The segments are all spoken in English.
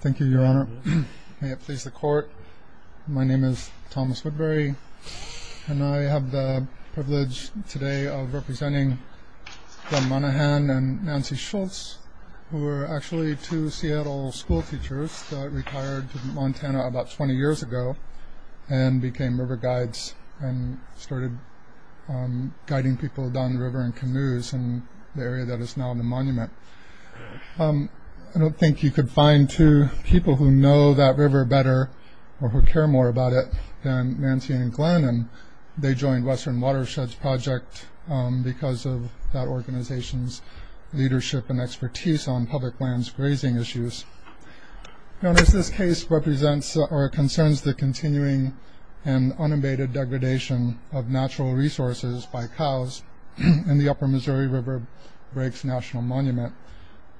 Thank you, Your Honor. May it please the Court, my name is Thomas Woodbury and I have the privilege today of representing Glen Monaghan and Nancy Schultz, who were actually two Seattle school teachers that retired to Montana about 20 years ago and became river guides and started guiding people down the river in canoes in the area that is now the monument. I don't think you could find two people who know that river better or who care more about it than Nancy and Glen and they joined Western Watersheds Project because of that organization's leadership and expertise on public lands grazing issues. Your Honor, this case represents or concerns the continuing and unabated degradation of natural resources by cows in the Upper Missouri River Breaks National Monument,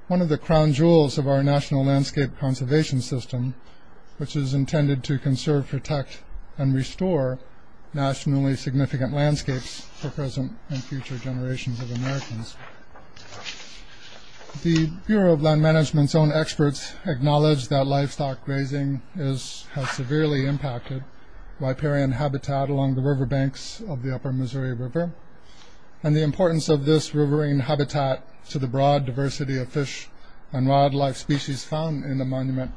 one of the crown jewels of our National Landscape Conservation System, which is intended to conserve, protect, and restore nationally significant landscapes for present and future generations of Americans. The Bureau of Land Management's own experts acknowledge that livestock grazing has severely impacted riparian habitat along the riverbanks of the Upper Missouri River and the importance of this riverine habitat to the broad diversity of fish and wildlife species found in the monument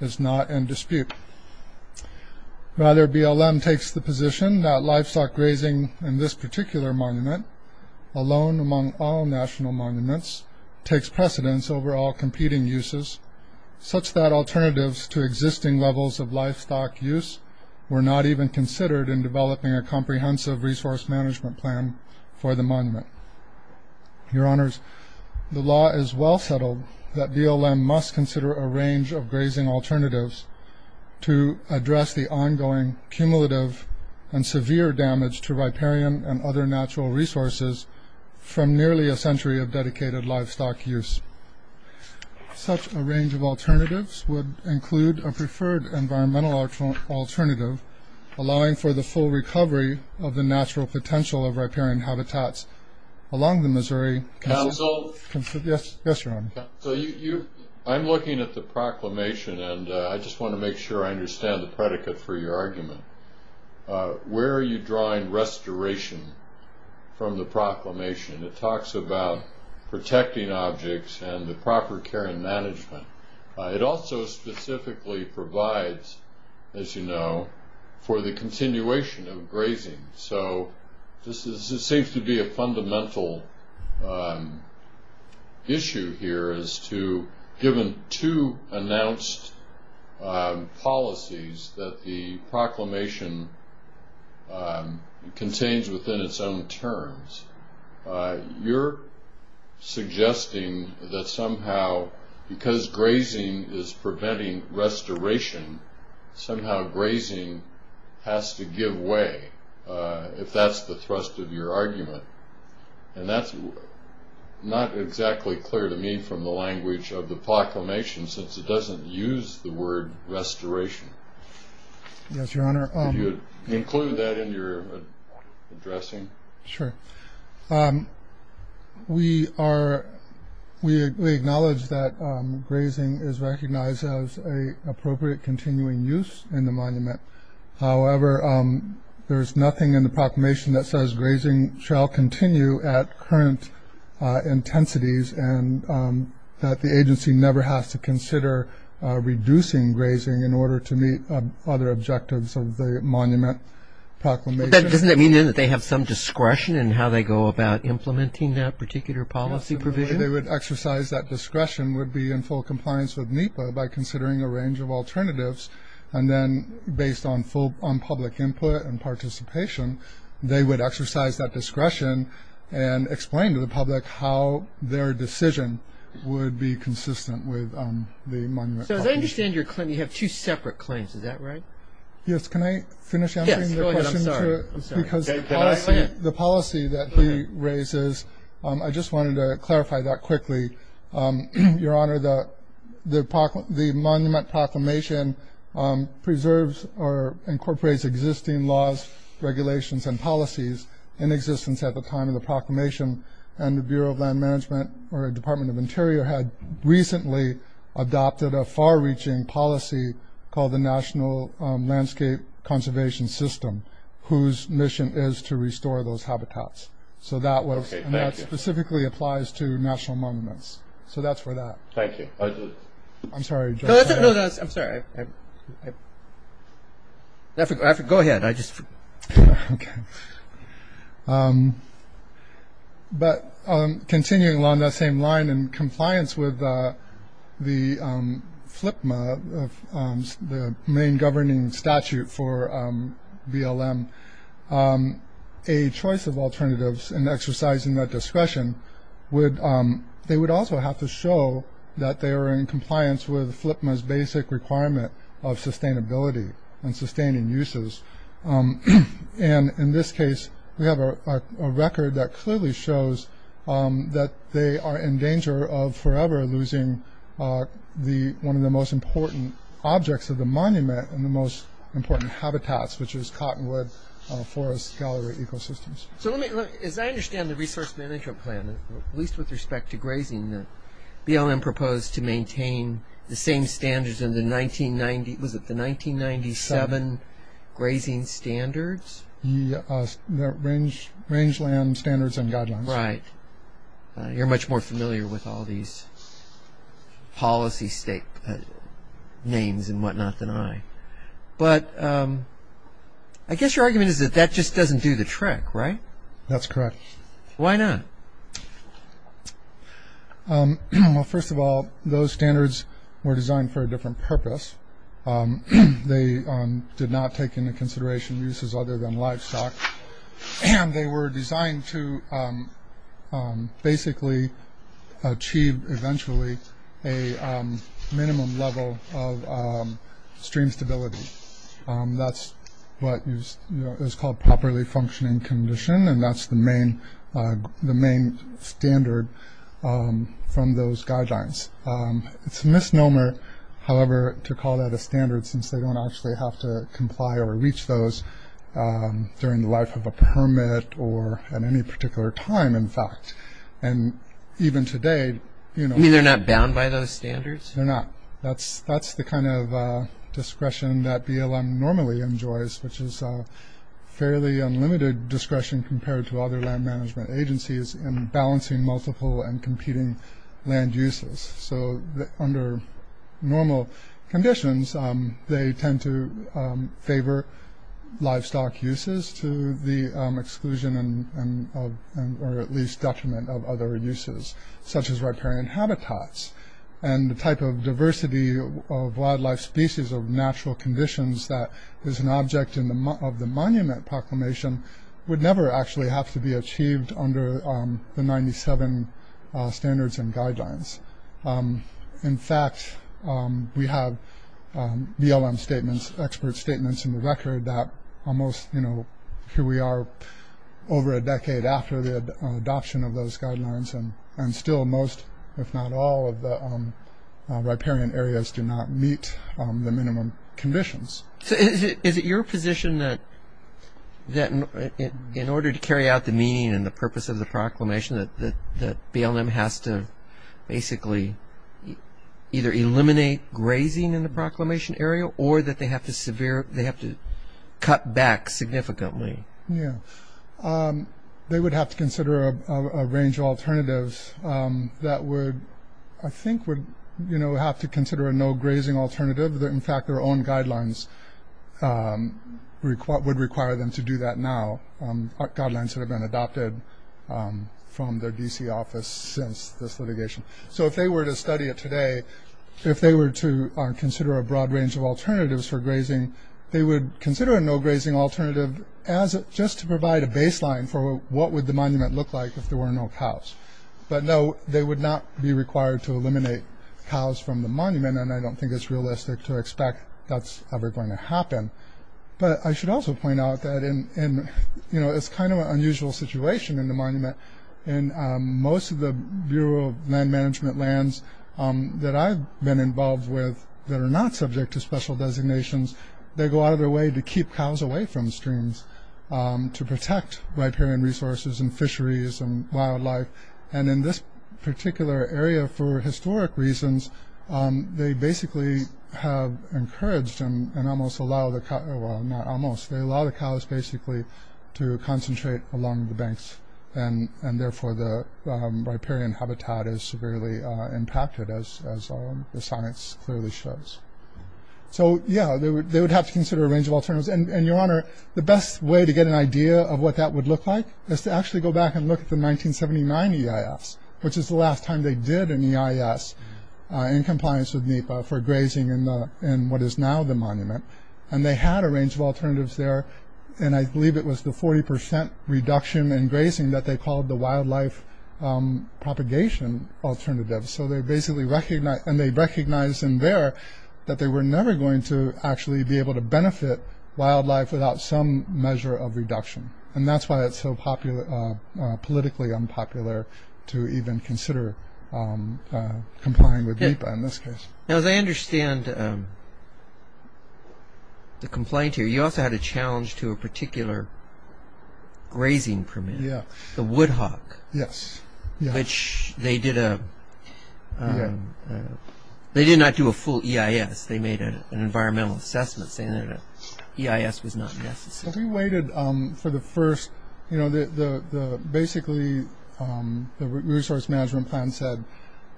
is not in dispute. Rather, BLM takes the position that livestock grazing in this particular monument, alone among all national monuments, takes precedence over all competing uses, such that alternatives to existing levels of livestock use were not even considered in developing a comprehensive resource management plan for the monument. Your Honors, the law is well settled that BLM must consider a range of grazing alternatives to address the ongoing cumulative and severe damage to riparian and other natural resources from nearly a century of dedicated livestock use. Such a range of alternatives would include a preferred environmental alternative, allowing for the full recovery of the natural potential of riparian habitats along the Missouri... Counsel? Yes, Your Honor. So you, I'm looking at the proclamation and I just want to make sure I understand the predicate for your argument. Where are you drawing restoration from the proclamation? It talks about protecting objects and the proper care and management. It also specifically provides, as you know, for the continuation of grazing. So this seems to be a fundamental issue here as to, given two announced policies that the proclamation contains within its own terms, you're suggesting that somehow, because grazing is preventing restoration, somehow grazing has to give way, if that's the thrust of your argument. And that's not exactly clear to me from the language of the proclamation, since it doesn't use the word restoration. Yes, Your Honor. Could you include that in your addressing? Sure. We are, we acknowledge that grazing is recognized as a appropriate continuing use in the monument. However, there is nothing in the proclamation that says grazing shall continue at current intensities and that the agency never has to consider reducing grazing in order to meet other objectives of the monument proclamation. Doesn't that mean that they have some discretion in how they go about implementing that particular policy provision? They would exercise that discretion would be in full compliance with NEPA by considering a range of alternatives. And then based on full, on public input and participation, they would exercise that discretion to explain to the public how their decision would be consistent with the monument. So as I understand your claim, you have two separate claims. Is that right? Yes. Can I finish answering your question? Because the policy that he raises, I just wanted to clarify that quickly. Your Honor, the monument proclamation preserves or incorporates existing laws, regulations, and policies in existence at the time of the proclamation. And the Bureau of Land Management or the Department of Interior had recently adopted a far-reaching policy called the National Landscape Conservation System, whose mission is to restore those habitats. So that was, and that specifically applies to national monuments. So that's for that. Thank you. I'm sorry. No, no, I'm sorry. Go ahead. I just. Okay. But continuing along that same line in compliance with the FLIPMA, the main governing statute for BLM, a choice of alternatives and exercising that discretion would, they would also have to show that they are in compliance with FLIPMA's basic requirement of sustainability and sustaining uses. And in this case, we have a record that clearly shows that they are in danger of forever losing the, one of the most important objects of the monument and the most important habitats, which is cottonwood, forest, gallery ecosystems. So let me, as I understand the respect to grazing, the BLM proposed to maintain the same standards in the 1990, was it the 1997 grazing standards? The range land standards and guidelines. Right. You're much more familiar with all these policy state names and whatnot than I. But I guess your argument is that that just doesn't do the trick, right? That's correct. Why not? Well, first of all, those standards were designed for a different purpose. They did not take into consideration uses other than livestock and they were designed to basically achieve eventually a minimum level of stream stability. That's what you, you know, is called properly functioning condition and that's the main, the main standard from those guidelines. It's a misnomer, however, to call that a standard since they don't actually have to comply or reach those during the life of a permit or at any particular time, in fact. And even today, you know. You mean they're not bound by those standards? They're not. That's the kind of discretion that BLM normally enjoys, which is a fairly unlimited discretion compared to other land management agencies in balancing multiple and competing land uses. So under normal conditions, they tend to favor livestock uses to the exclusion and or at least detriment of other uses, such as riparian habitats. And the type of diversity of wildlife species of natural conditions that is an object of the monument proclamation would never actually have to be achieved under the 97 standards and guidelines. In fact, we have BLM statements, expert statements in the record that almost, you know, here we are over a decade after the adoption of those guidelines and still most, if not all, of the riparian areas do not meet the minimum conditions. So is it your position that in order to carry out the meaning and the purpose of the proclamation that BLM has to basically either eliminate grazing in the severe, they have to cut back significantly? Yeah. They would have to consider a range of alternatives that would, I think, would, you know, have to consider a no grazing alternative. In fact, their own guidelines would require them to do that now. Guidelines that have been adopted from their DC office since this litigation. So if they were to study it today, if they were to consider a broad range of alternatives for grazing, they would consider a no grazing alternative just to provide a baseline for what would the monument look like if there were no cows. But no, they would not be required to eliminate cows from the monument and I don't think it's realistic to expect that's ever going to happen. But I should also point out that in, you know, it's kind of an unusual situation in the monument. In most of the Bureau of Land Management lands that I've been involved with that are not subject to special designations, they go out of their way to keep cows away from the streams to protect riparian resources and fisheries and wildlife. And in this particular area, for historic reasons, they basically have encouraged and almost allow the cow, well not almost, they allow the cows basically to concentrate along the banks and therefore the riparian habitat is severely impacted as the science clearly shows. So yeah, they would have to consider a range of alternatives. And your honor, the best way to get an idea of what that would look like is to actually go back and look at the 1979 EIS, which is the last time they did an EIS in compliance with NEPA for grazing in what is now the monument. And they had a range of alternatives there and I believe it was the 40 percent reduction in grazing that they called the wildlife propagation alternative. So they basically recognized and they recognized in there that they were never going to actually be able to benefit wildlife without some measure of reduction. And that's why it's so politically unpopular to even consider complying with NEPA in this case. Now as I understand the complaint here, you also had a challenge to a particular grazing permit. Yeah. The Woodhock. Yes. Which they did a, they did not do a full EIS, they made an environmental assessment saying that EIS was not necessary. We waited for the first, you know, basically the resource management plan said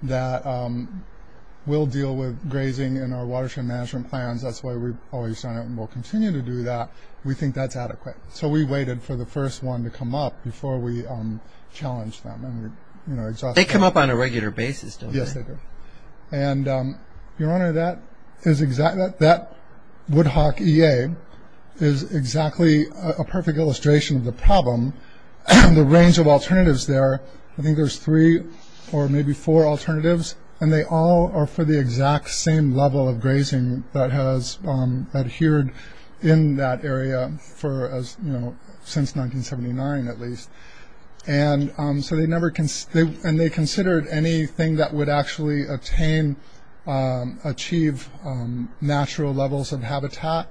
that we'll deal with grazing in our watershed management plans, that's why we've always done it and we'll continue to do that, we think that's adequate. So we waited for the first one to come up before we challenged them. They come up on a regular basis, don't they? Yes they do. And your honor, that is exactly, that Woodhock EA is exactly a perfect illustration of the problem. The range of alternatives there, I think there's three or maybe four alternatives and they all are for the exact same level of grazing that has adhered in that area for as, you know, since 1979 at least. And so they never, and they considered anything that would actually attain, achieve natural levels of habitat,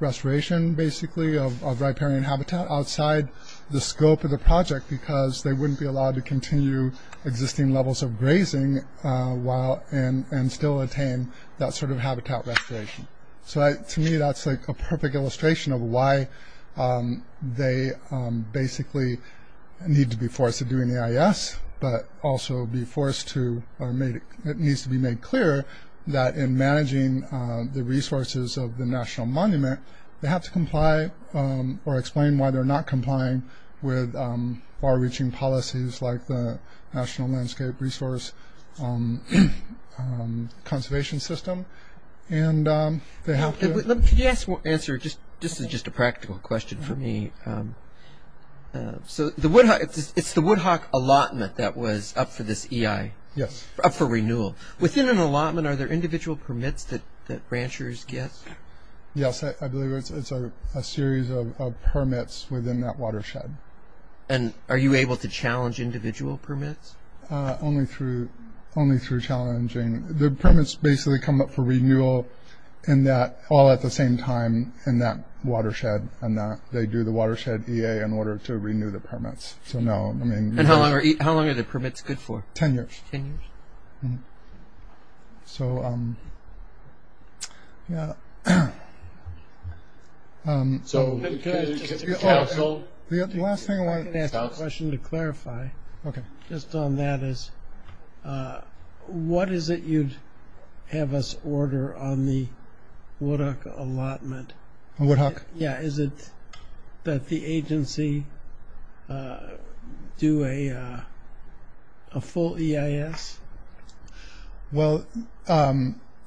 restoration basically of riparian habitat outside the scope of the project because they wouldn't be allowed to continue existing levels of grazing and still attain that sort of habitat restoration. So to me that's like a perfect illustration of why they basically need to be forced to do an EIS, but also be forced to, it needs to be made clear that in managing the resources of the National Monument, they have to comply or explain why they're not complying with far-reaching policies like the National Landscape Resource Conservation System and they have to... Can you answer, this is just a practical question for me, so the Woodhock, it's the Woodhock allotment that was up for this EI? Yes. Up for renewal. Within an allotment are there individual permits that ranchers get? Yes, I believe it's a series of permits within that watershed. And are you able to challenge individual permits? Only through, only through challenging. The permits basically come up for renewal in that, all at the same time in that watershed and that they do the watershed EA in order to renew the permits. So no, I mean... And how long are the permits good for? 10 years. 10 years. So yeah. So the last thing I want to ask a question to clarify. Okay. Just on that is what is it you'd have us order on the Woodhock allotment? On Woodhock? Yeah, is it that the agency do a full EIS? Well,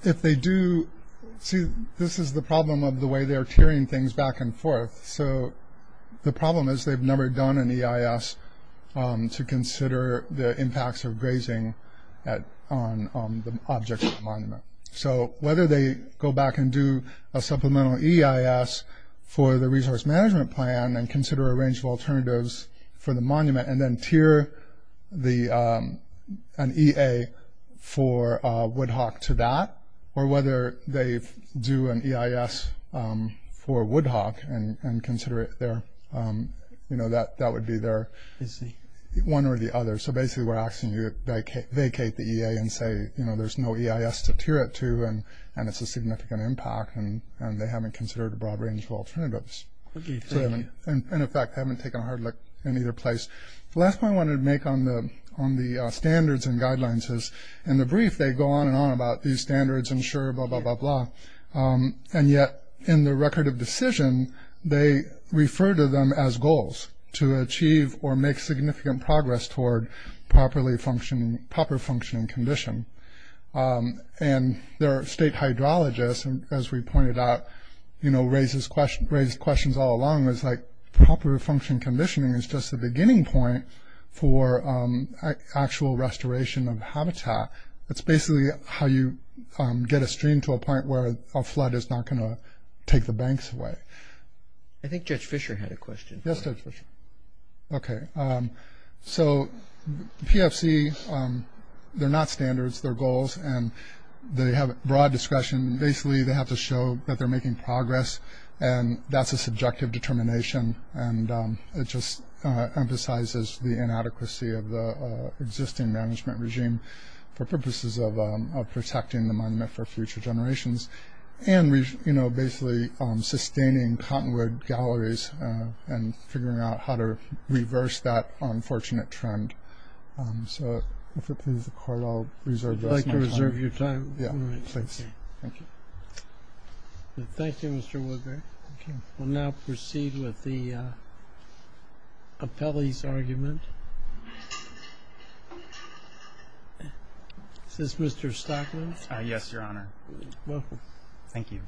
if they do, see this is the problem of the way they're tiering things back and forth. So the problem is they've never done an EIS to consider the impacts of grazing on the object of the monument. So whether they go back and do a supplemental EIS for the resource management plan and consider a range of alternatives for the monument and then tier the, an EA for Woodhock to that, or whether they do an EIS for Woodhock and consider it there, you know, that that would be their one or the other. So basically we're asking you vacate the EA and say, you know, there's no EIS to tier it to and it's a significant impact and they haven't considered a broad range of alternatives. And in fact, they haven't taken a hard look in either place. The last point I wanted to make on the standards and guidelines is in the brief, they go on and on about these standards and sure, blah, blah, blah, blah. And yet in the record of decision, they refer to them as goals to achieve or make significant progress toward properly functioning, proper functioning condition. And there are state hydrologists, and as we pointed out, you know, raises questions, raised questions all along, it's like proper function conditioning is just the beginning point for actual restoration of habitat. It's basically how you get a stream to a point where a flood is not going to take the banks away. I think Judge Fisher had a question. Yes, Judge Fisher. Okay. So PFC, they're not standards, they're goals, and they have broad discretion. Basically, they have to show that they're making progress. And that's a subjective determination. And it just emphasizes the inadequacy of the existing management regime for purposes of protecting the monument for future generations. And, you know, basically sustaining cottonwood galleries and figuring out how to reverse that I'd like to reserve your time. Yeah, thanks. Thank you. Thank you, Mr. Woodbury. We'll now proceed with the appellee's argument. Is this Mr. Stockman? Yes, Your Honor. Thank you.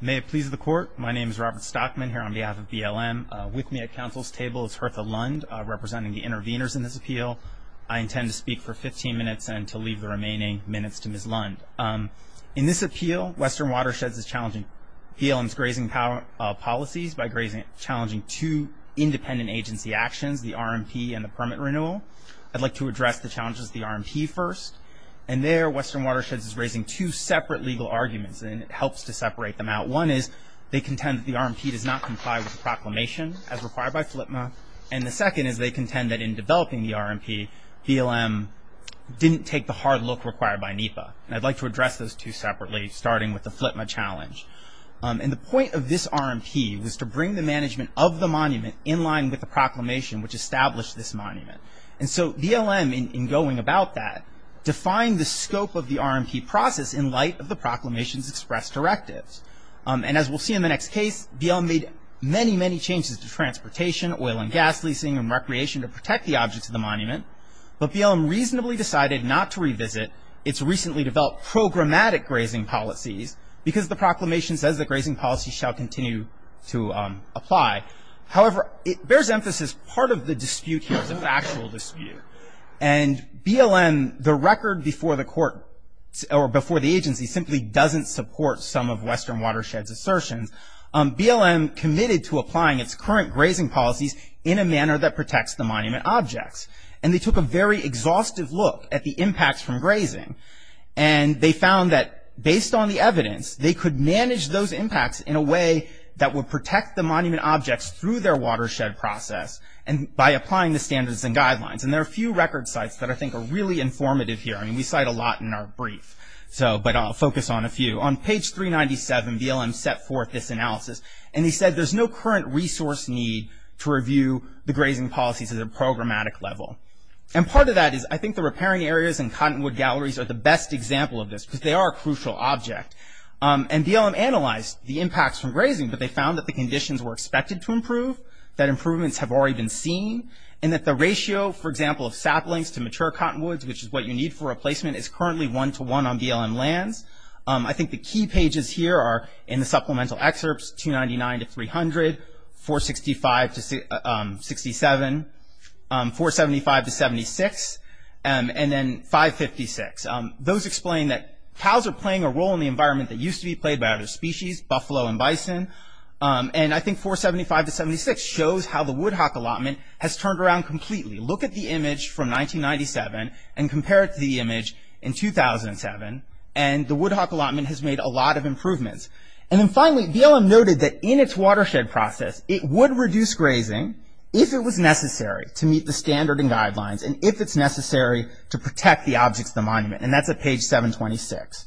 May it please the court. My name is Robert Stockman here on behalf of BLM. With me at counsel's table is Hertha Lund, representing the interveners in this appeal. I intend to speak for 15 minutes and to leave the remaining minutes to Ms. Lund. In this appeal, Western Watersheds is challenging BLM's grazing policies by challenging two independent agency actions, the RMP and the permit renewal. I'd like to address the challenges of the RMP first. And there Western Watersheds is raising two separate legal arguments, and it helps to separate them out. One is they contend that the RMP does not comply with the proclamation as in developing the RMP, BLM didn't take the hard look required by NEPA. And I'd like to address those two separately, starting with the FLTMA challenge. And the point of this RMP was to bring the management of the monument in line with the proclamation, which established this monument. And so BLM, in going about that, defined the scope of the RMP process in light of the proclamation's express directives. And as we'll see in the next case, BLM made many, many changes to transportation, oil and gas leasing, and recreation to protect the objects of the monument. But BLM reasonably decided not to revisit its recently developed programmatic grazing policies because the proclamation says that grazing policies shall continue to apply. However, it bears emphasis, part of the dispute here is a factual dispute. And BLM, the record before the court or before the agency simply doesn't support some of Western Watersheds' assertions. BLM committed to applying its current grazing policies in a manner that protects the monument objects. And they took a very exhaustive look at the impacts from grazing. And they found that based on the evidence, they could manage those impacts in a way that would protect the monument objects through their watershed process and by applying the standards and guidelines. And there are a few record sites that I think are really informative here. I mean, we cite a lot in our There's no current resource need to review the grazing policies at a programmatic level. And part of that is I think the repairing areas and cottonwood galleries are the best example of this because they are a crucial object. And BLM analyzed the impacts from grazing, but they found that the conditions were expected to improve, that improvements have already been seen, and that the ratio, for example, of saplings to mature cottonwoods, which is what you need for replacement, is currently one to one on BLM lands. I think the key pages here are in the supplemental excerpts 299 to 300, 465 to 67, 475 to 76, and then 556. Those explain that cows are playing a role in the environment that used to be played by other species, buffalo and bison. And I think 475 to 76 shows how the Woodhock allotment has turned around completely. Look at the image from 1997 and compare it to the image in 2007. And the Woodhock allotment has made a lot of improvements. And then finally, BLM noted that in its watershed process, it would reduce grazing if it was necessary to meet the standard and guidelines and if it's necessary to protect the objects of the monument. And that's at page 726.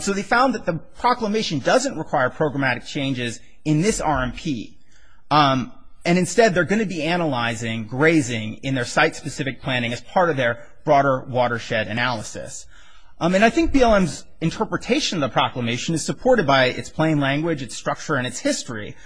So they found that the proclamation doesn't require programmatic changes in this RMP. And instead, they're going to be analyzing grazing in their site-specific planning as part of their broader watershed analysis. And I think BLM's interpretation of proclamation is supported by its plain language, its structure, and its history.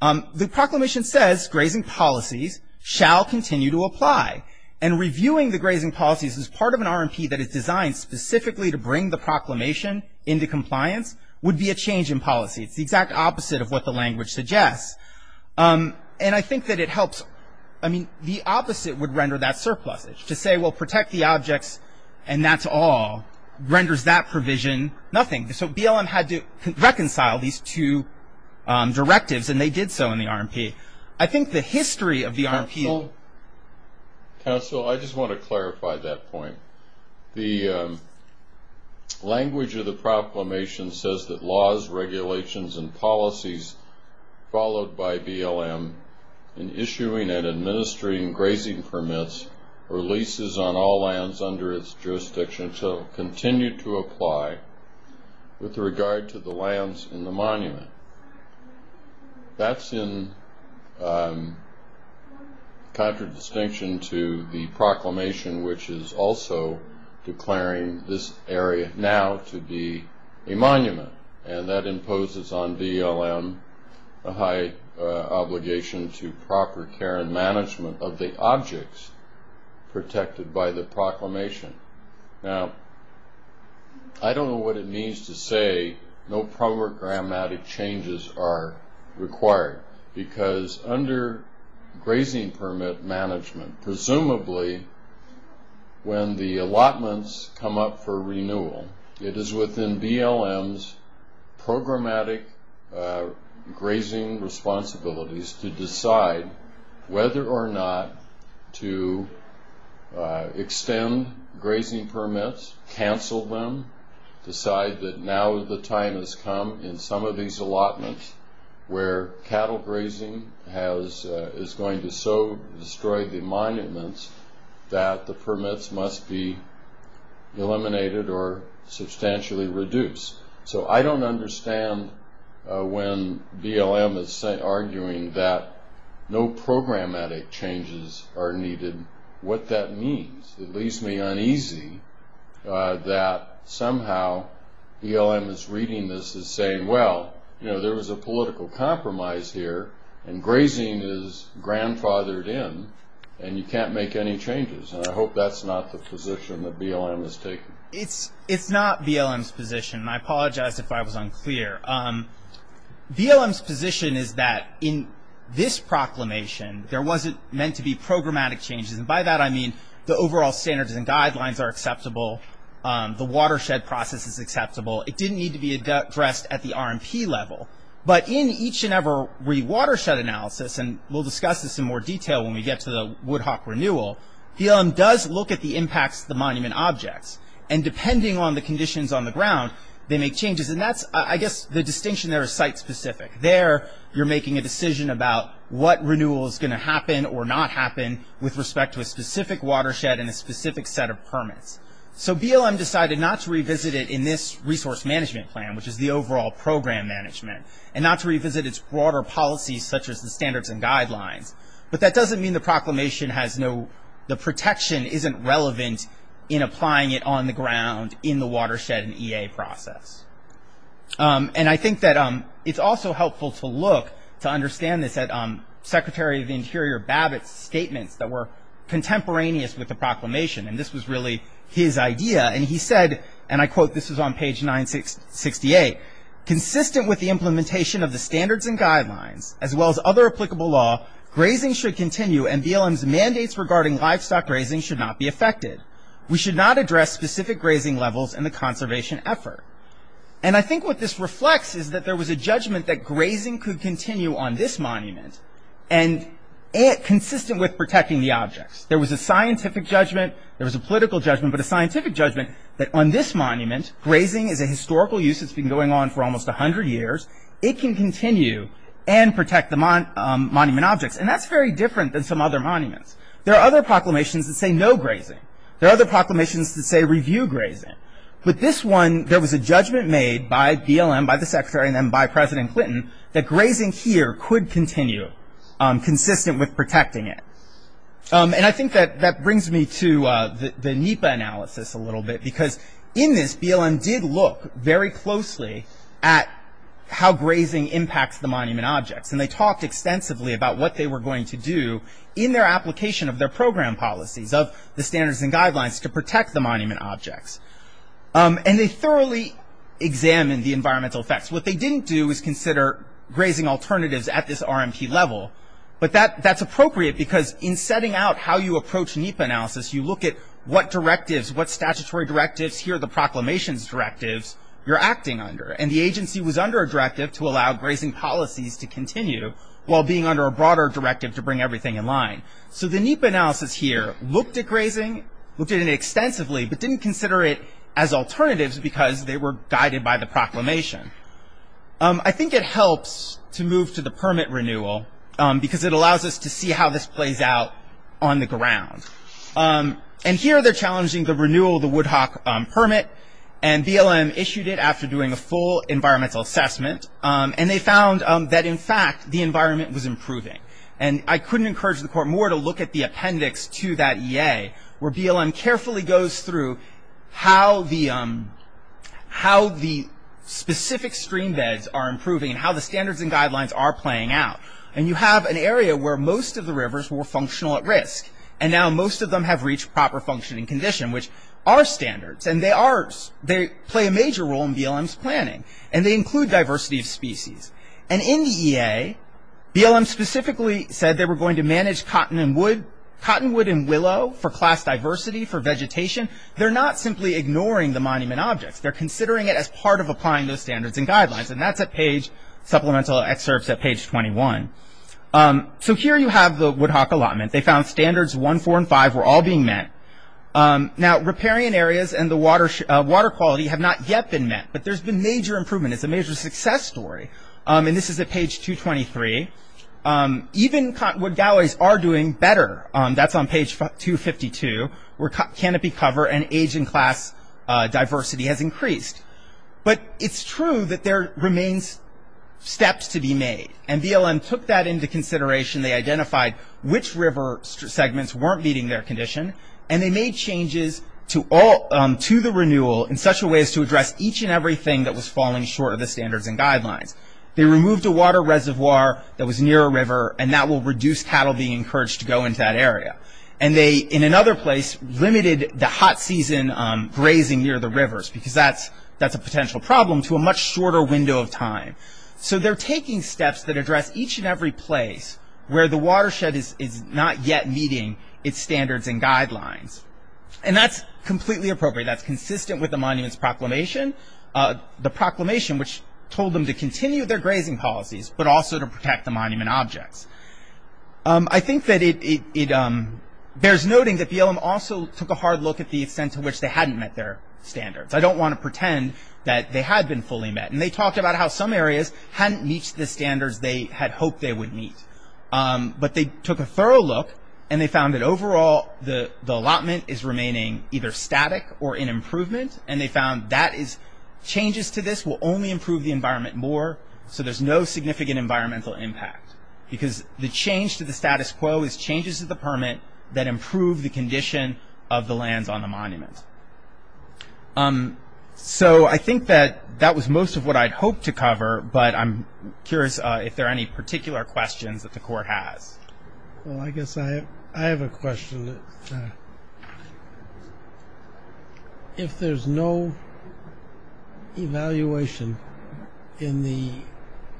The proclamation says grazing policies shall continue to apply. And reviewing the grazing policies as part of an RMP that is designed specifically to bring the proclamation into compliance would be a change in policy. It's the exact opposite of what the language suggests. And I think that it helps, I mean, the opposite would render that surplusage. To say, well, protect the objects, and that's all, renders that provision nothing. So BLM had to reconcile these two directives, and they did so in the RMP. I think the history of the RMP... Council, I just want to clarify that point. The language of the proclamation says that laws, regulations, and policies followed by BLM in issuing and administering grazing permits or leases on all lands under its jurisdiction shall continue to apply with regard to the lands in the monument. That's in contradistinction to the proclamation, which is also declaring this area now to be a monument. And that imposes on BLM a high obligation to proper care and management of the objects protected by the proclamation. Now, I don't know what it means to say no programmatic changes are required because under grazing permit management, presumably when the allotments come up for programmatic grazing responsibilities to decide whether or not to extend grazing permits, cancel them, decide that now the time has come in some of these allotments where cattle grazing is going to so destroy the monuments that the permits must be eliminated or substantially reduced. So I don't understand when BLM is arguing that no programmatic changes are needed, what that means. It leaves me uneasy that somehow BLM is reading this as saying, well, there was a political compromise here and grazing is grandfathered in and you can't make any changes. And I apologize if I was unclear. BLM's position is that in this proclamation, there wasn't meant to be programmatic changes. And by that I mean the overall standards and guidelines are acceptable. The watershed process is acceptable. It didn't need to be addressed at the RMP level. But in each and every watershed analysis, and we'll discuss this in more detail when we get to the Woodhock renewal, BLM does look at the impacts of the monument objects. And depending on the conditions on the ground, they make changes. And that's, I guess, the distinction there is site-specific. There, you're making a decision about what renewal is going to happen or not happen with respect to a specific watershed and a specific set of permits. So BLM decided not to revisit it in this resource management plan, which is the overall program management, and not to revisit its broader policies such as the standards and guidelines. But that doesn't mean the proclamation has no, the protection isn't relevant in applying it on the ground in the watershed and EA process. And I think that it's also helpful to look, to understand this at Secretary of the Interior Babbitt's statements that were contemporaneous with the proclamation. And this was really his idea. And he said, and I quote, this is on page 968, consistent with the implementation of the standards and guidelines, as well as other applicable law, grazing should continue and BLM's mandates regarding livestock grazing should not be affected. We should not address specific grazing levels in the conservation effort. And I think what this reflects is that there was a judgment that grazing could continue on this monument, and consistent with protecting the objects. There was a scientific judgment, there was a political judgment, but a scientific judgment that on this monument, grazing is a historical use that's been going on for almost 100 years. It can continue and protect the monument objects. And that's very different than some other monuments. There are other proclamations that say no grazing. There are other proclamations that say review grazing. But this one, there was a judgment made by BLM, by the Secretary and then by President Clinton, that grazing here could continue, consistent with protecting it. And I think that that brings me to the NEPA analysis a In this, BLM did look very closely at how grazing impacts the monument objects. And they talked extensively about what they were going to do in their application of their program policies of the standards and guidelines to protect the monument objects. And they thoroughly examined the environmental effects. What they didn't do is consider grazing alternatives at this RMT level. But that's appropriate because in setting out how you approach NEPA analysis, you look at what directives, what statutory directives, here are the proclamations directives you're acting under. And the agency was under a directive to allow grazing policies to continue while being under a broader directive to bring everything in line. So the NEPA analysis here looked at grazing, looked at it extensively, but didn't consider it as alternatives because they were guided by the proclamation. I think it helps to move to the permit renewal because it allows us to see how this plays out on the ground. And here, they're challenging the renewal of the Woodhock permit. And BLM issued it after doing a full environmental assessment. And they found that, in fact, the environment was improving. And I couldn't encourage the court more to look at the appendix to that EA where BLM carefully goes through how the specific stream beds are improving and how the standards and guidelines are playing out. And you have an area where most of the rivers were functional at risk. And now most of them have reached proper functioning condition, which are standards. And they play a major role in BLM's planning. And they include diversity of species. And in the EA, BLM specifically said they were going to manage cottonwood and willow for class diversity, for vegetation. They're not simply ignoring the monument objects. They're considering it as part of applying those standards and guidelines. And that's at page, supplemental excerpts at page 21. So here you have the Woodhock allotment. They found standards one, four, and five were all being met. Now, riparian areas and the water quality have not yet been met. But there's been major improvement. It's a major success story. And this is at page 223. Even cottonwood galleries are doing better. That's on page 252, where canopy cover and age and class diversity has increased. But it's true that there remains steps to be made. And BLM took that into consideration. They identified which river segments weren't meeting their condition. And they made changes to all, to the renewal in such a way as to address each and everything that was falling short of the standards and guidelines. They removed a water reservoir that was near a river. And that will reduce cattle being encouraged to go into that grazing near the rivers, because that's a potential problem to a much shorter window of time. So they're taking steps that address each and every place where the watershed is not yet meeting its standards and guidelines. And that's completely appropriate. That's consistent with the monument's proclamation. The proclamation, which told them to continue their grazing policies, but also to protect the monument objects. I think that it bears noting that BLM also took a hard look at the extent to which they hadn't met their standards. I don't want to pretend that they had been fully met. And they talked about how some areas hadn't reached the standards they had hoped they would meet. But they took a thorough look, and they found that overall, the allotment is remaining either static or in improvement. And they found that changes to this will only improve the environment more. So there's no significant environmental impact. Because the change to the status quo is changes to the permit that improve the condition of the lands on the monument. So I think that that was most of what I'd hoped to cover. But I'm curious if there are any particular questions that the court has. Well, I guess I have a question. If there's no evaluation in the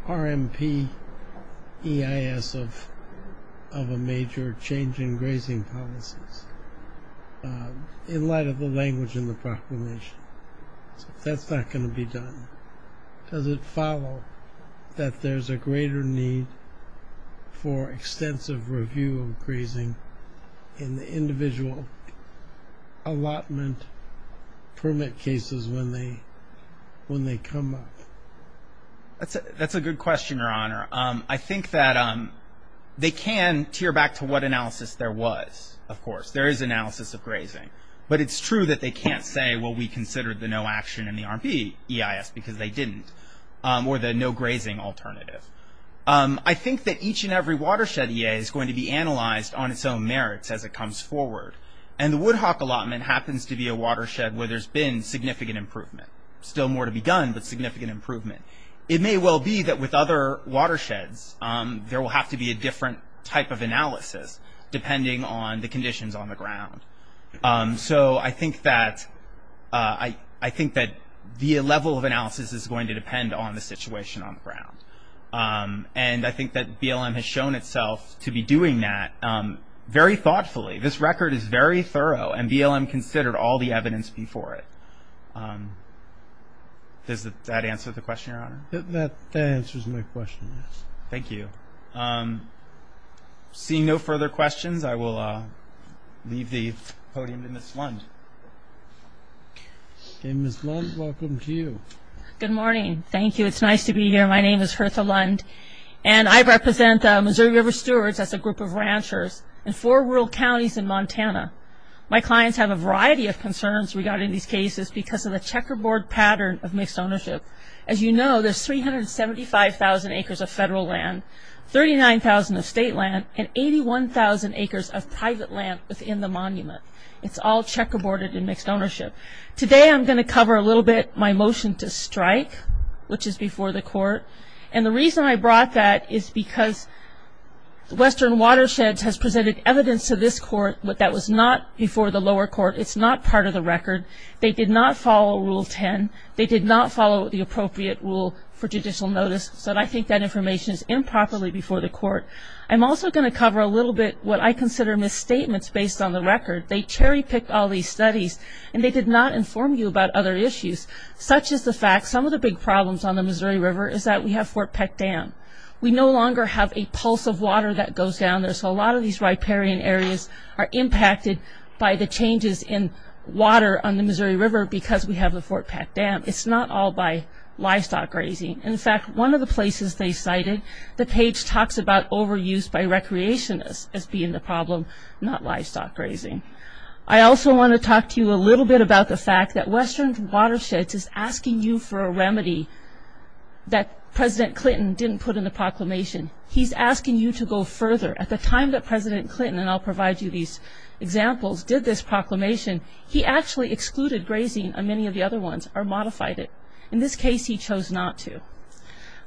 RMP EIS of a major change in grazing policies, in light of the language in the proclamation, that's not going to be done. Does it follow that there's a greater need for extensive review of grazing in the individual allotment permit cases when they come up? That's a good question, Your Honor. I think that they can tear back to what analysis there was, of course. There is analysis of grazing. But it's true that they can't say, well, we considered the no action in the RMP EIS because they didn't. Or the no grazing alternative. I think that each and every watershed EA is going to be analyzed on its own merits as it comes forward. And the Woodhock allotment happens to be a watershed where there's been significant improvement. Still more to be done, but significant improvement. It may well be that with other watersheds, there will have to be a different type of analysis, depending on the conditions on the ground. I think that the level of analysis is going to depend on the situation on the ground. And I think that BLM has shown itself to be doing that very thoughtfully. This record is very thorough, and BLM considered all the evidence before it. Does that answer the question, Your Honor? That answers my question, yes. Thank you. Seeing no further questions, I will leave the podium in the slung. Okay, Ms. Lund, welcome to you. Good morning. Thank you. It's nice to be here. My name is Hertha Lund, and I represent Missouri River Stewards as a group of ranchers in four rural counties in Montana. My clients have a variety of concerns regarding these cases because of the checkerboard pattern of mixed ownership. As you know, there's 375,000 acres of federal land, 39,000 of state land, and 81,000 acres of private land within the monument. It's all checkerboarded in mixed ownership. Today, I'm going to cover a little bit my motion to strike, which is before the court. And the reason I brought that is because Western Watersheds has presented evidence to this court, but that was not before the lower court. It's not part of the record. They did not follow Rule 10. They did not follow the appropriate rule for judicial notice, so I think that information is improperly before the court. I'm also going to cover a little bit what I consider misstatements based on the record. They cherry-picked all these studies, and they did not inform you about other issues, such as the fact some of the big problems on the Missouri River is that we have Fort Peck Dam. We no longer have a pulse of water that goes down there, so a lot of these riparian areas are impacted by the changes in water on the Missouri River because we have the Fort Peck Dam. It's not all by livestock grazing. In fact, one of the places they cited, the page talks about overuse by recreationists as being the problem, not livestock grazing. I also want to talk to you a little bit about the fact that Western Watersheds is asking you for a remedy that President Clinton didn't put in the proclamation. He's asking you to go further. At the time that President Clinton, and I'll provide you these examples, did this proclamation, he actually excluded grazing on many of the other ones or modified it. In this case, he chose not to.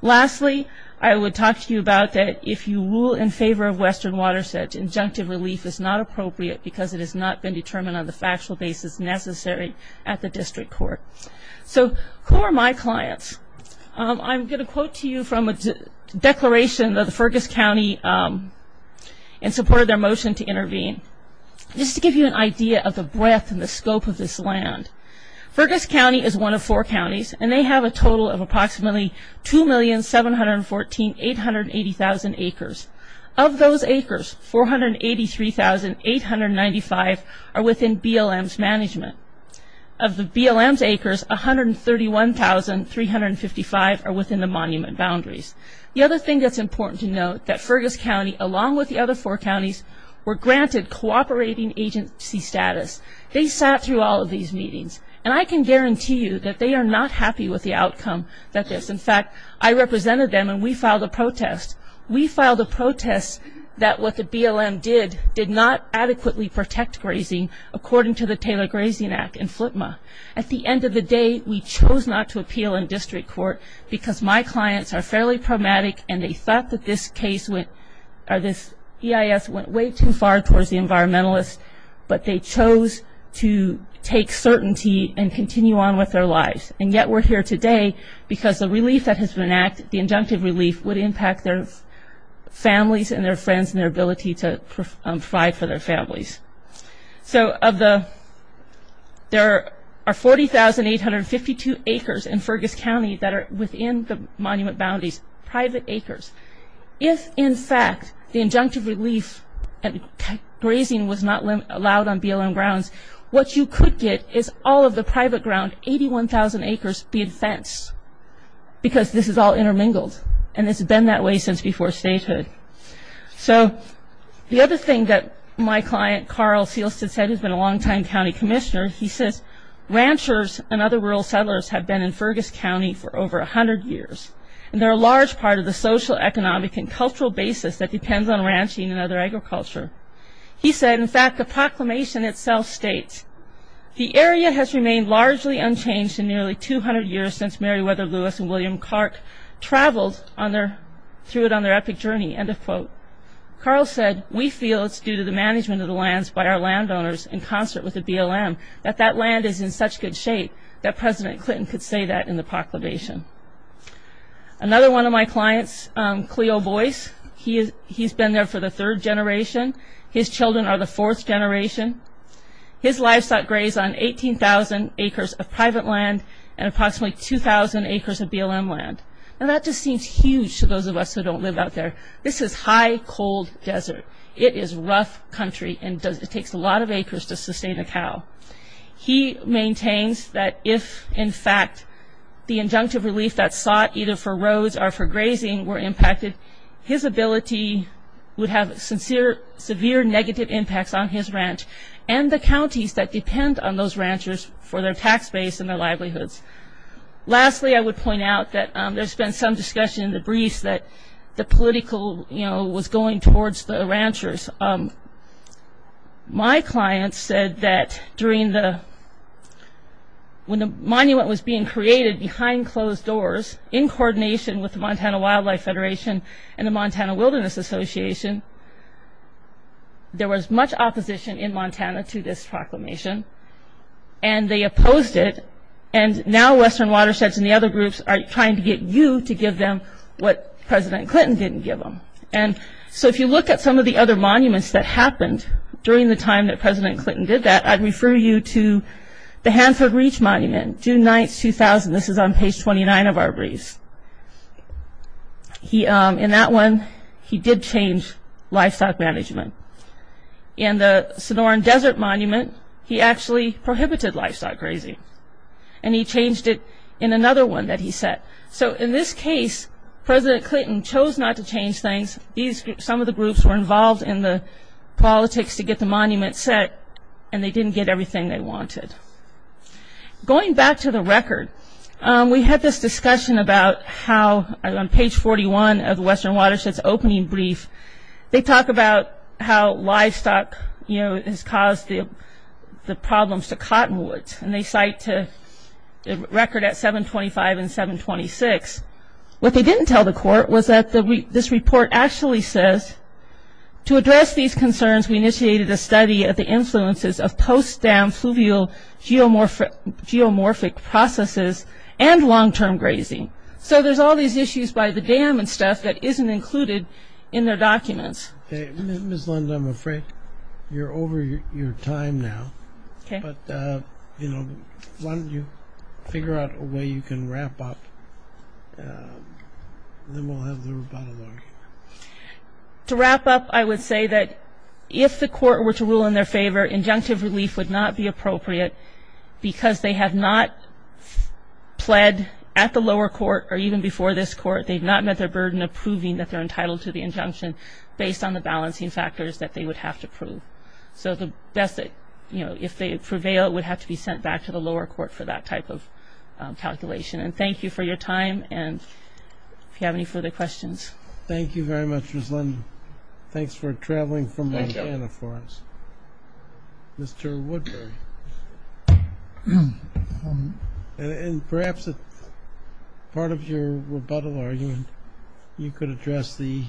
Lastly, I would talk to you about that if you rule in favor of Western Watersheds, injunctive relief is not appropriate because it has not been determined on the factual basis necessary at the district court. Who are my clients? I'm going to quote to you from a declaration of the Fergus County in support of their motion to intervene. Just to give you an idea of the breadth and the scope of this land, Fergus County is one of four counties and they have a total of approximately 2,714,880,000 acres. Of those acres, 483,895 are within BLM's management. Of the BLM's acres, 131,355 are within the monument boundaries. The other thing that's important to note, that Fergus County, along with the other four counties, were granted cooperating agency status. They sat through all these meetings. I can guarantee you that they are not happy with the outcome that this. In fact, I represented them and we filed a protest. We filed a protest that what the BLM did, did not adequately protect grazing according to the Taylor Grazing Act and FLTMA. At the end of the day, we chose not to appeal in district court because my clients are fairly pragmatic and they thought that this case went, or this EIS went way too far towards the environmentalists, but they chose to take certainty and continue on with their lives. Yet, we're here today because the relief that has been enacted, the injunctive relief, would impact their families and their friends and their ability to provide for their families. There are 40,852 acres in Fergus County that are within the monument boundaries, private acres. If, in fact, the injunctive relief and grazing was not allowed on BLM grounds, what you could get is all of the private ground, 81,000 acres, be fenced because this is all intermingled. It's been that way since before statehood. The other thing that my client, Carl Seelstad, said, who's been a long-time county commissioner, he says, ranchers and other rural settlers have been in Fergus County for over 100 years. They're a large part of the social, economic, and cultural basis that depends on ranching and other agriculture. He said, in fact, the proclamation itself states, the area has remained largely unchanged in nearly 200 years since Meriwether Lewis and William Clark traveled through it on their epic journey, end of quote. Carl said, we feel it's due to the management of the lands by our landowners in concert with the BLM, that that land is in such good shape that President Clinton could say that in the proclamation. Another one of my clients, Cleo Boyce, he's been there for the third generation. His children are the fourth generation. His livestock graze on 18,000 acres of private land and approximately 2,000 acres of BLM land. That just seems huge to those of us who don't live out there. This is high, cold desert. It is rough country and it takes a lot of acres to sustain a cow. He maintains that if, in fact, the injunctive relief that sought either for roads or for grazing were impacted, his ability would have severe negative impacts on his ranch and the counties that depend on those ranchers for their tax base and their livelihoods. Lastly, I would point out that there's been some discussion in the briefs that the political was going towards the ranchers. My client said that when the monument was being created behind closed doors in coordination with the Montana Wildlife Federation and the Montana Wilderness Association, there was much opposition in Montana to this proclamation. They opposed it and now Western Watersheds and the other groups are trying to get you to give them what President Clinton didn't give them. If you look at some of the other monuments that happened during the time that President Clinton did that, I'd refer you to the Hanford Reach Monument, June 9, 2000. This is on page 29 of our briefs. In that one, he did change livestock management. In the Sonoran Desert Monument, he actually prohibited livestock grazing and he changed it in another one that he set. In this case, President Clinton chose not to change things. Some of the groups were involved in the politics to get the monument set and they didn't get everything they wanted. Going back to the record, we had this discussion about how on page 41 of the Western Watersheds opening brief, they talk about how livestock has caused the problems to cottonwoods and they cite the record at 725 and 726. What they didn't tell the court was that this report actually says, to address these concerns, we initiated a study of the influences of post-dam fluvial geomorphic processes and long-term grazing. So there's all these issues by the dam and stuff that isn't included in their documents. Okay, Ms. Lund, I'm afraid you're over your time now, but why don't you figure out a way you can wrap up and then we'll have the rebuttal argument. To wrap up, I would say that if the court were to rule in their favor, injunctive relief would not be appropriate because they have not pled at the lower court or even before this court, they've not met their burden of proving that they're entitled to the injunction based on the balancing factors that they would have to prove. So if they prevail, it would have to be sent back to the lower court for that type of calculation. And thank you for your time and if you have any further questions. Thank you very much, Ms. Lund. Thanks for traveling from Montana for us. Mr. Woodbury, and perhaps part of your rebuttal argument you could address the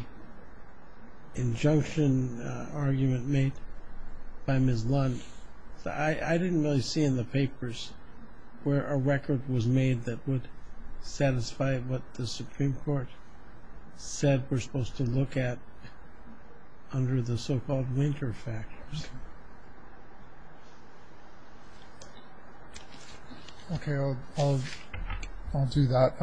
injunction argument made by Ms. Lund. I didn't really see in the papers where a record was made that would satisfy what the Supreme Court said we're supposed to look at under the so-called winter factors. Okay, I'll do that.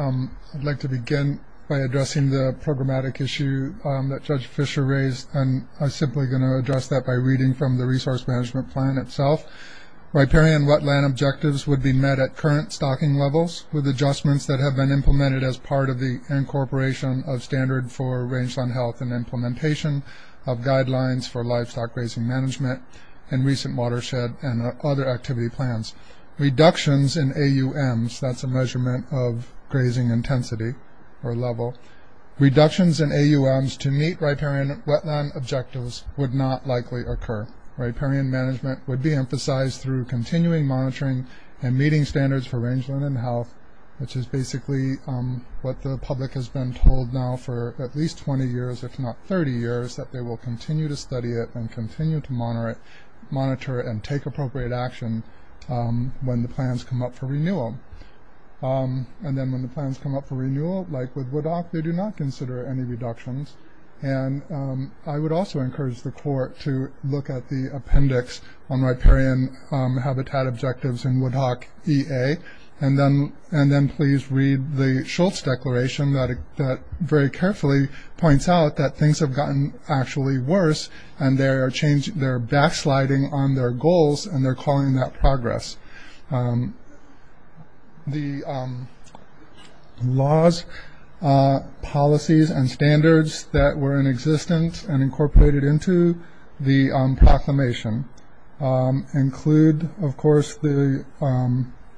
I'd like to begin by addressing the programmatic issue that Judge Fisher raised and I'm simply going to address that by reading from the resource management plan itself. Riparian wetland objectives would be met at current stocking levels with adjustments that have been implemented as part of the incorporation of standard for rangeland health and implementation of guidelines for livestock grazing management and recent watershed and other activity plans. Reductions in AUMs, that's a measurement of grazing intensity or level, reductions in AUMs to meet wetland objectives would not likely occur. Riparian management would be emphasized through continuing monitoring and meeting standards for rangeland and health, which is basically what the public has been told now for at least 20 years, if not 30 years, that they will continue to study it and continue to monitor it and take appropriate action when the plans come up for renewal. And then when the plans come up for renewal, like with WDOC, they do not consider any reductions and I would also encourage the court to look at the appendix on riparian habitat objectives in WDOC EA and then please read the Schultz declaration that very carefully points out that things have gotten actually worse and they're backsliding on their goals and they're calling that progress. The laws, policies, and standards that were in existence and incorporated into the proclamation include of course the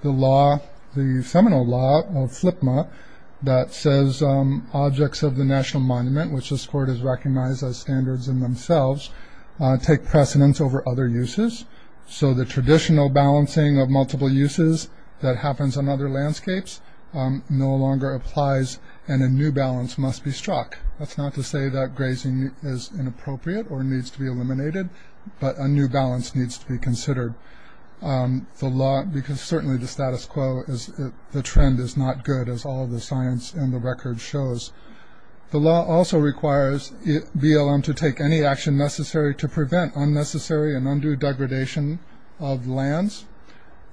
law, the seminal law of FLPMA that says objects of the National Monument, which this court has recognized as standards in themselves, take precedence over other uses. So the traditional balancing of multiple uses that happens on other landscapes no longer applies and a new balance must be struck. That's not to say that grazing is inappropriate or needs to be eliminated, but a new balance needs to be considered. The law, because certainly the status quo is the trend is not good as all the science and the record shows. The law also requires BLM to take any action necessary to prevent unnecessary and undue degradation of lands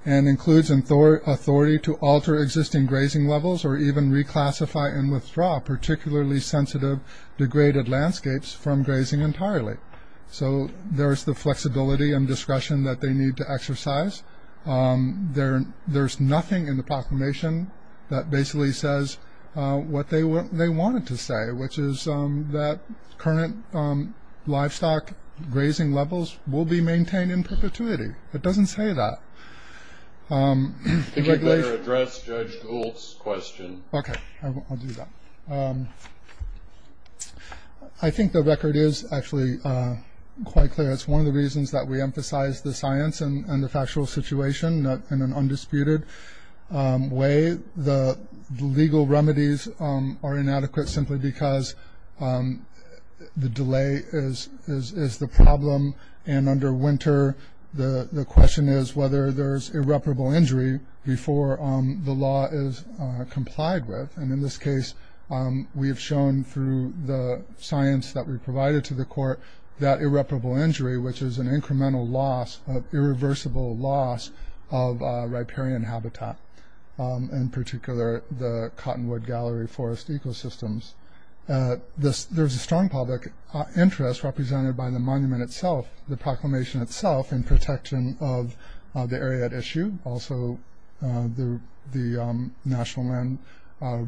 and includes authority to alter existing grazing levels or even reclassify and withdraw particularly sensitive degraded landscapes from grazing entirely. So there's the flexibility and discretion that they need to exercise. There's nothing in the proclamation that basically says what they wanted to say, which is that current livestock grazing levels will be maintained in perpetuity. It doesn't say that. I think you better address Judge Gould's question. Okay, I'll do that. I think the record is actually quite clear. It's one of the reasons that we emphasize the science and the factual situation in an undisputed way. The legal remedies are inadequate simply because the delay is the problem. And under Winter, the question is whether there's irreparable injury before the law is complied with. And in this case, we have shown through the science that we provided to the court that irreparable injury, which is an incremental loss of irreversible loss of riparian habitat. In particular, the Cottonwood Gallery forest ecosystems. There's a strong public interest represented by the monument itself, the proclamation itself in protection of the area at issue. Also, the National Land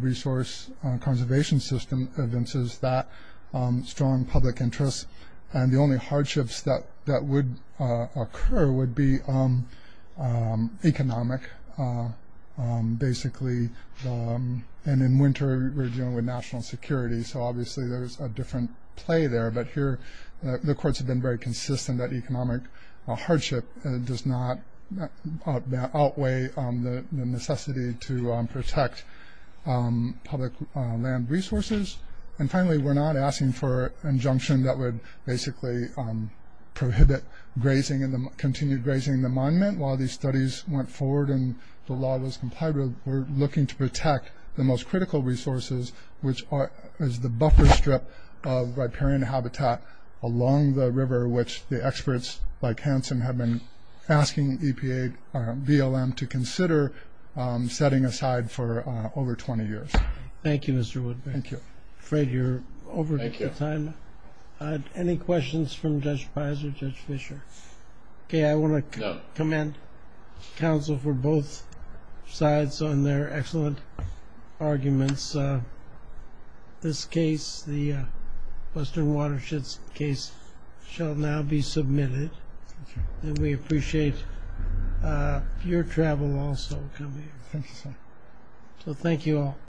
Resource Conservation System evinces that strong public interest. And the only hardships that would occur would be economic, basically. And in Winter, we're dealing with national security. So obviously, there's a different play there. But here, the courts have been very consistent that economic hardship does not outweigh the necessity to protect public land resources. And finally, we're not asking for an injunction that would basically prohibit grazing and continue grazing the monument. While these studies went forward and the law was complied with, we're looking to protect the most critical resources, which is the buffer strip of riparian habitat along the river, which the experts like Hanson have been asking EPA, BLM to consider setting aside for over 20 years. Thank you, Mr. Woodburn. I'm afraid you're over time. Any questions from Judge Pizer, Judge Fischer? Okay, I want to commend counsel for both sides on their excellent arguments. This case, the submitted. And we appreciate your travel also. So thank you all.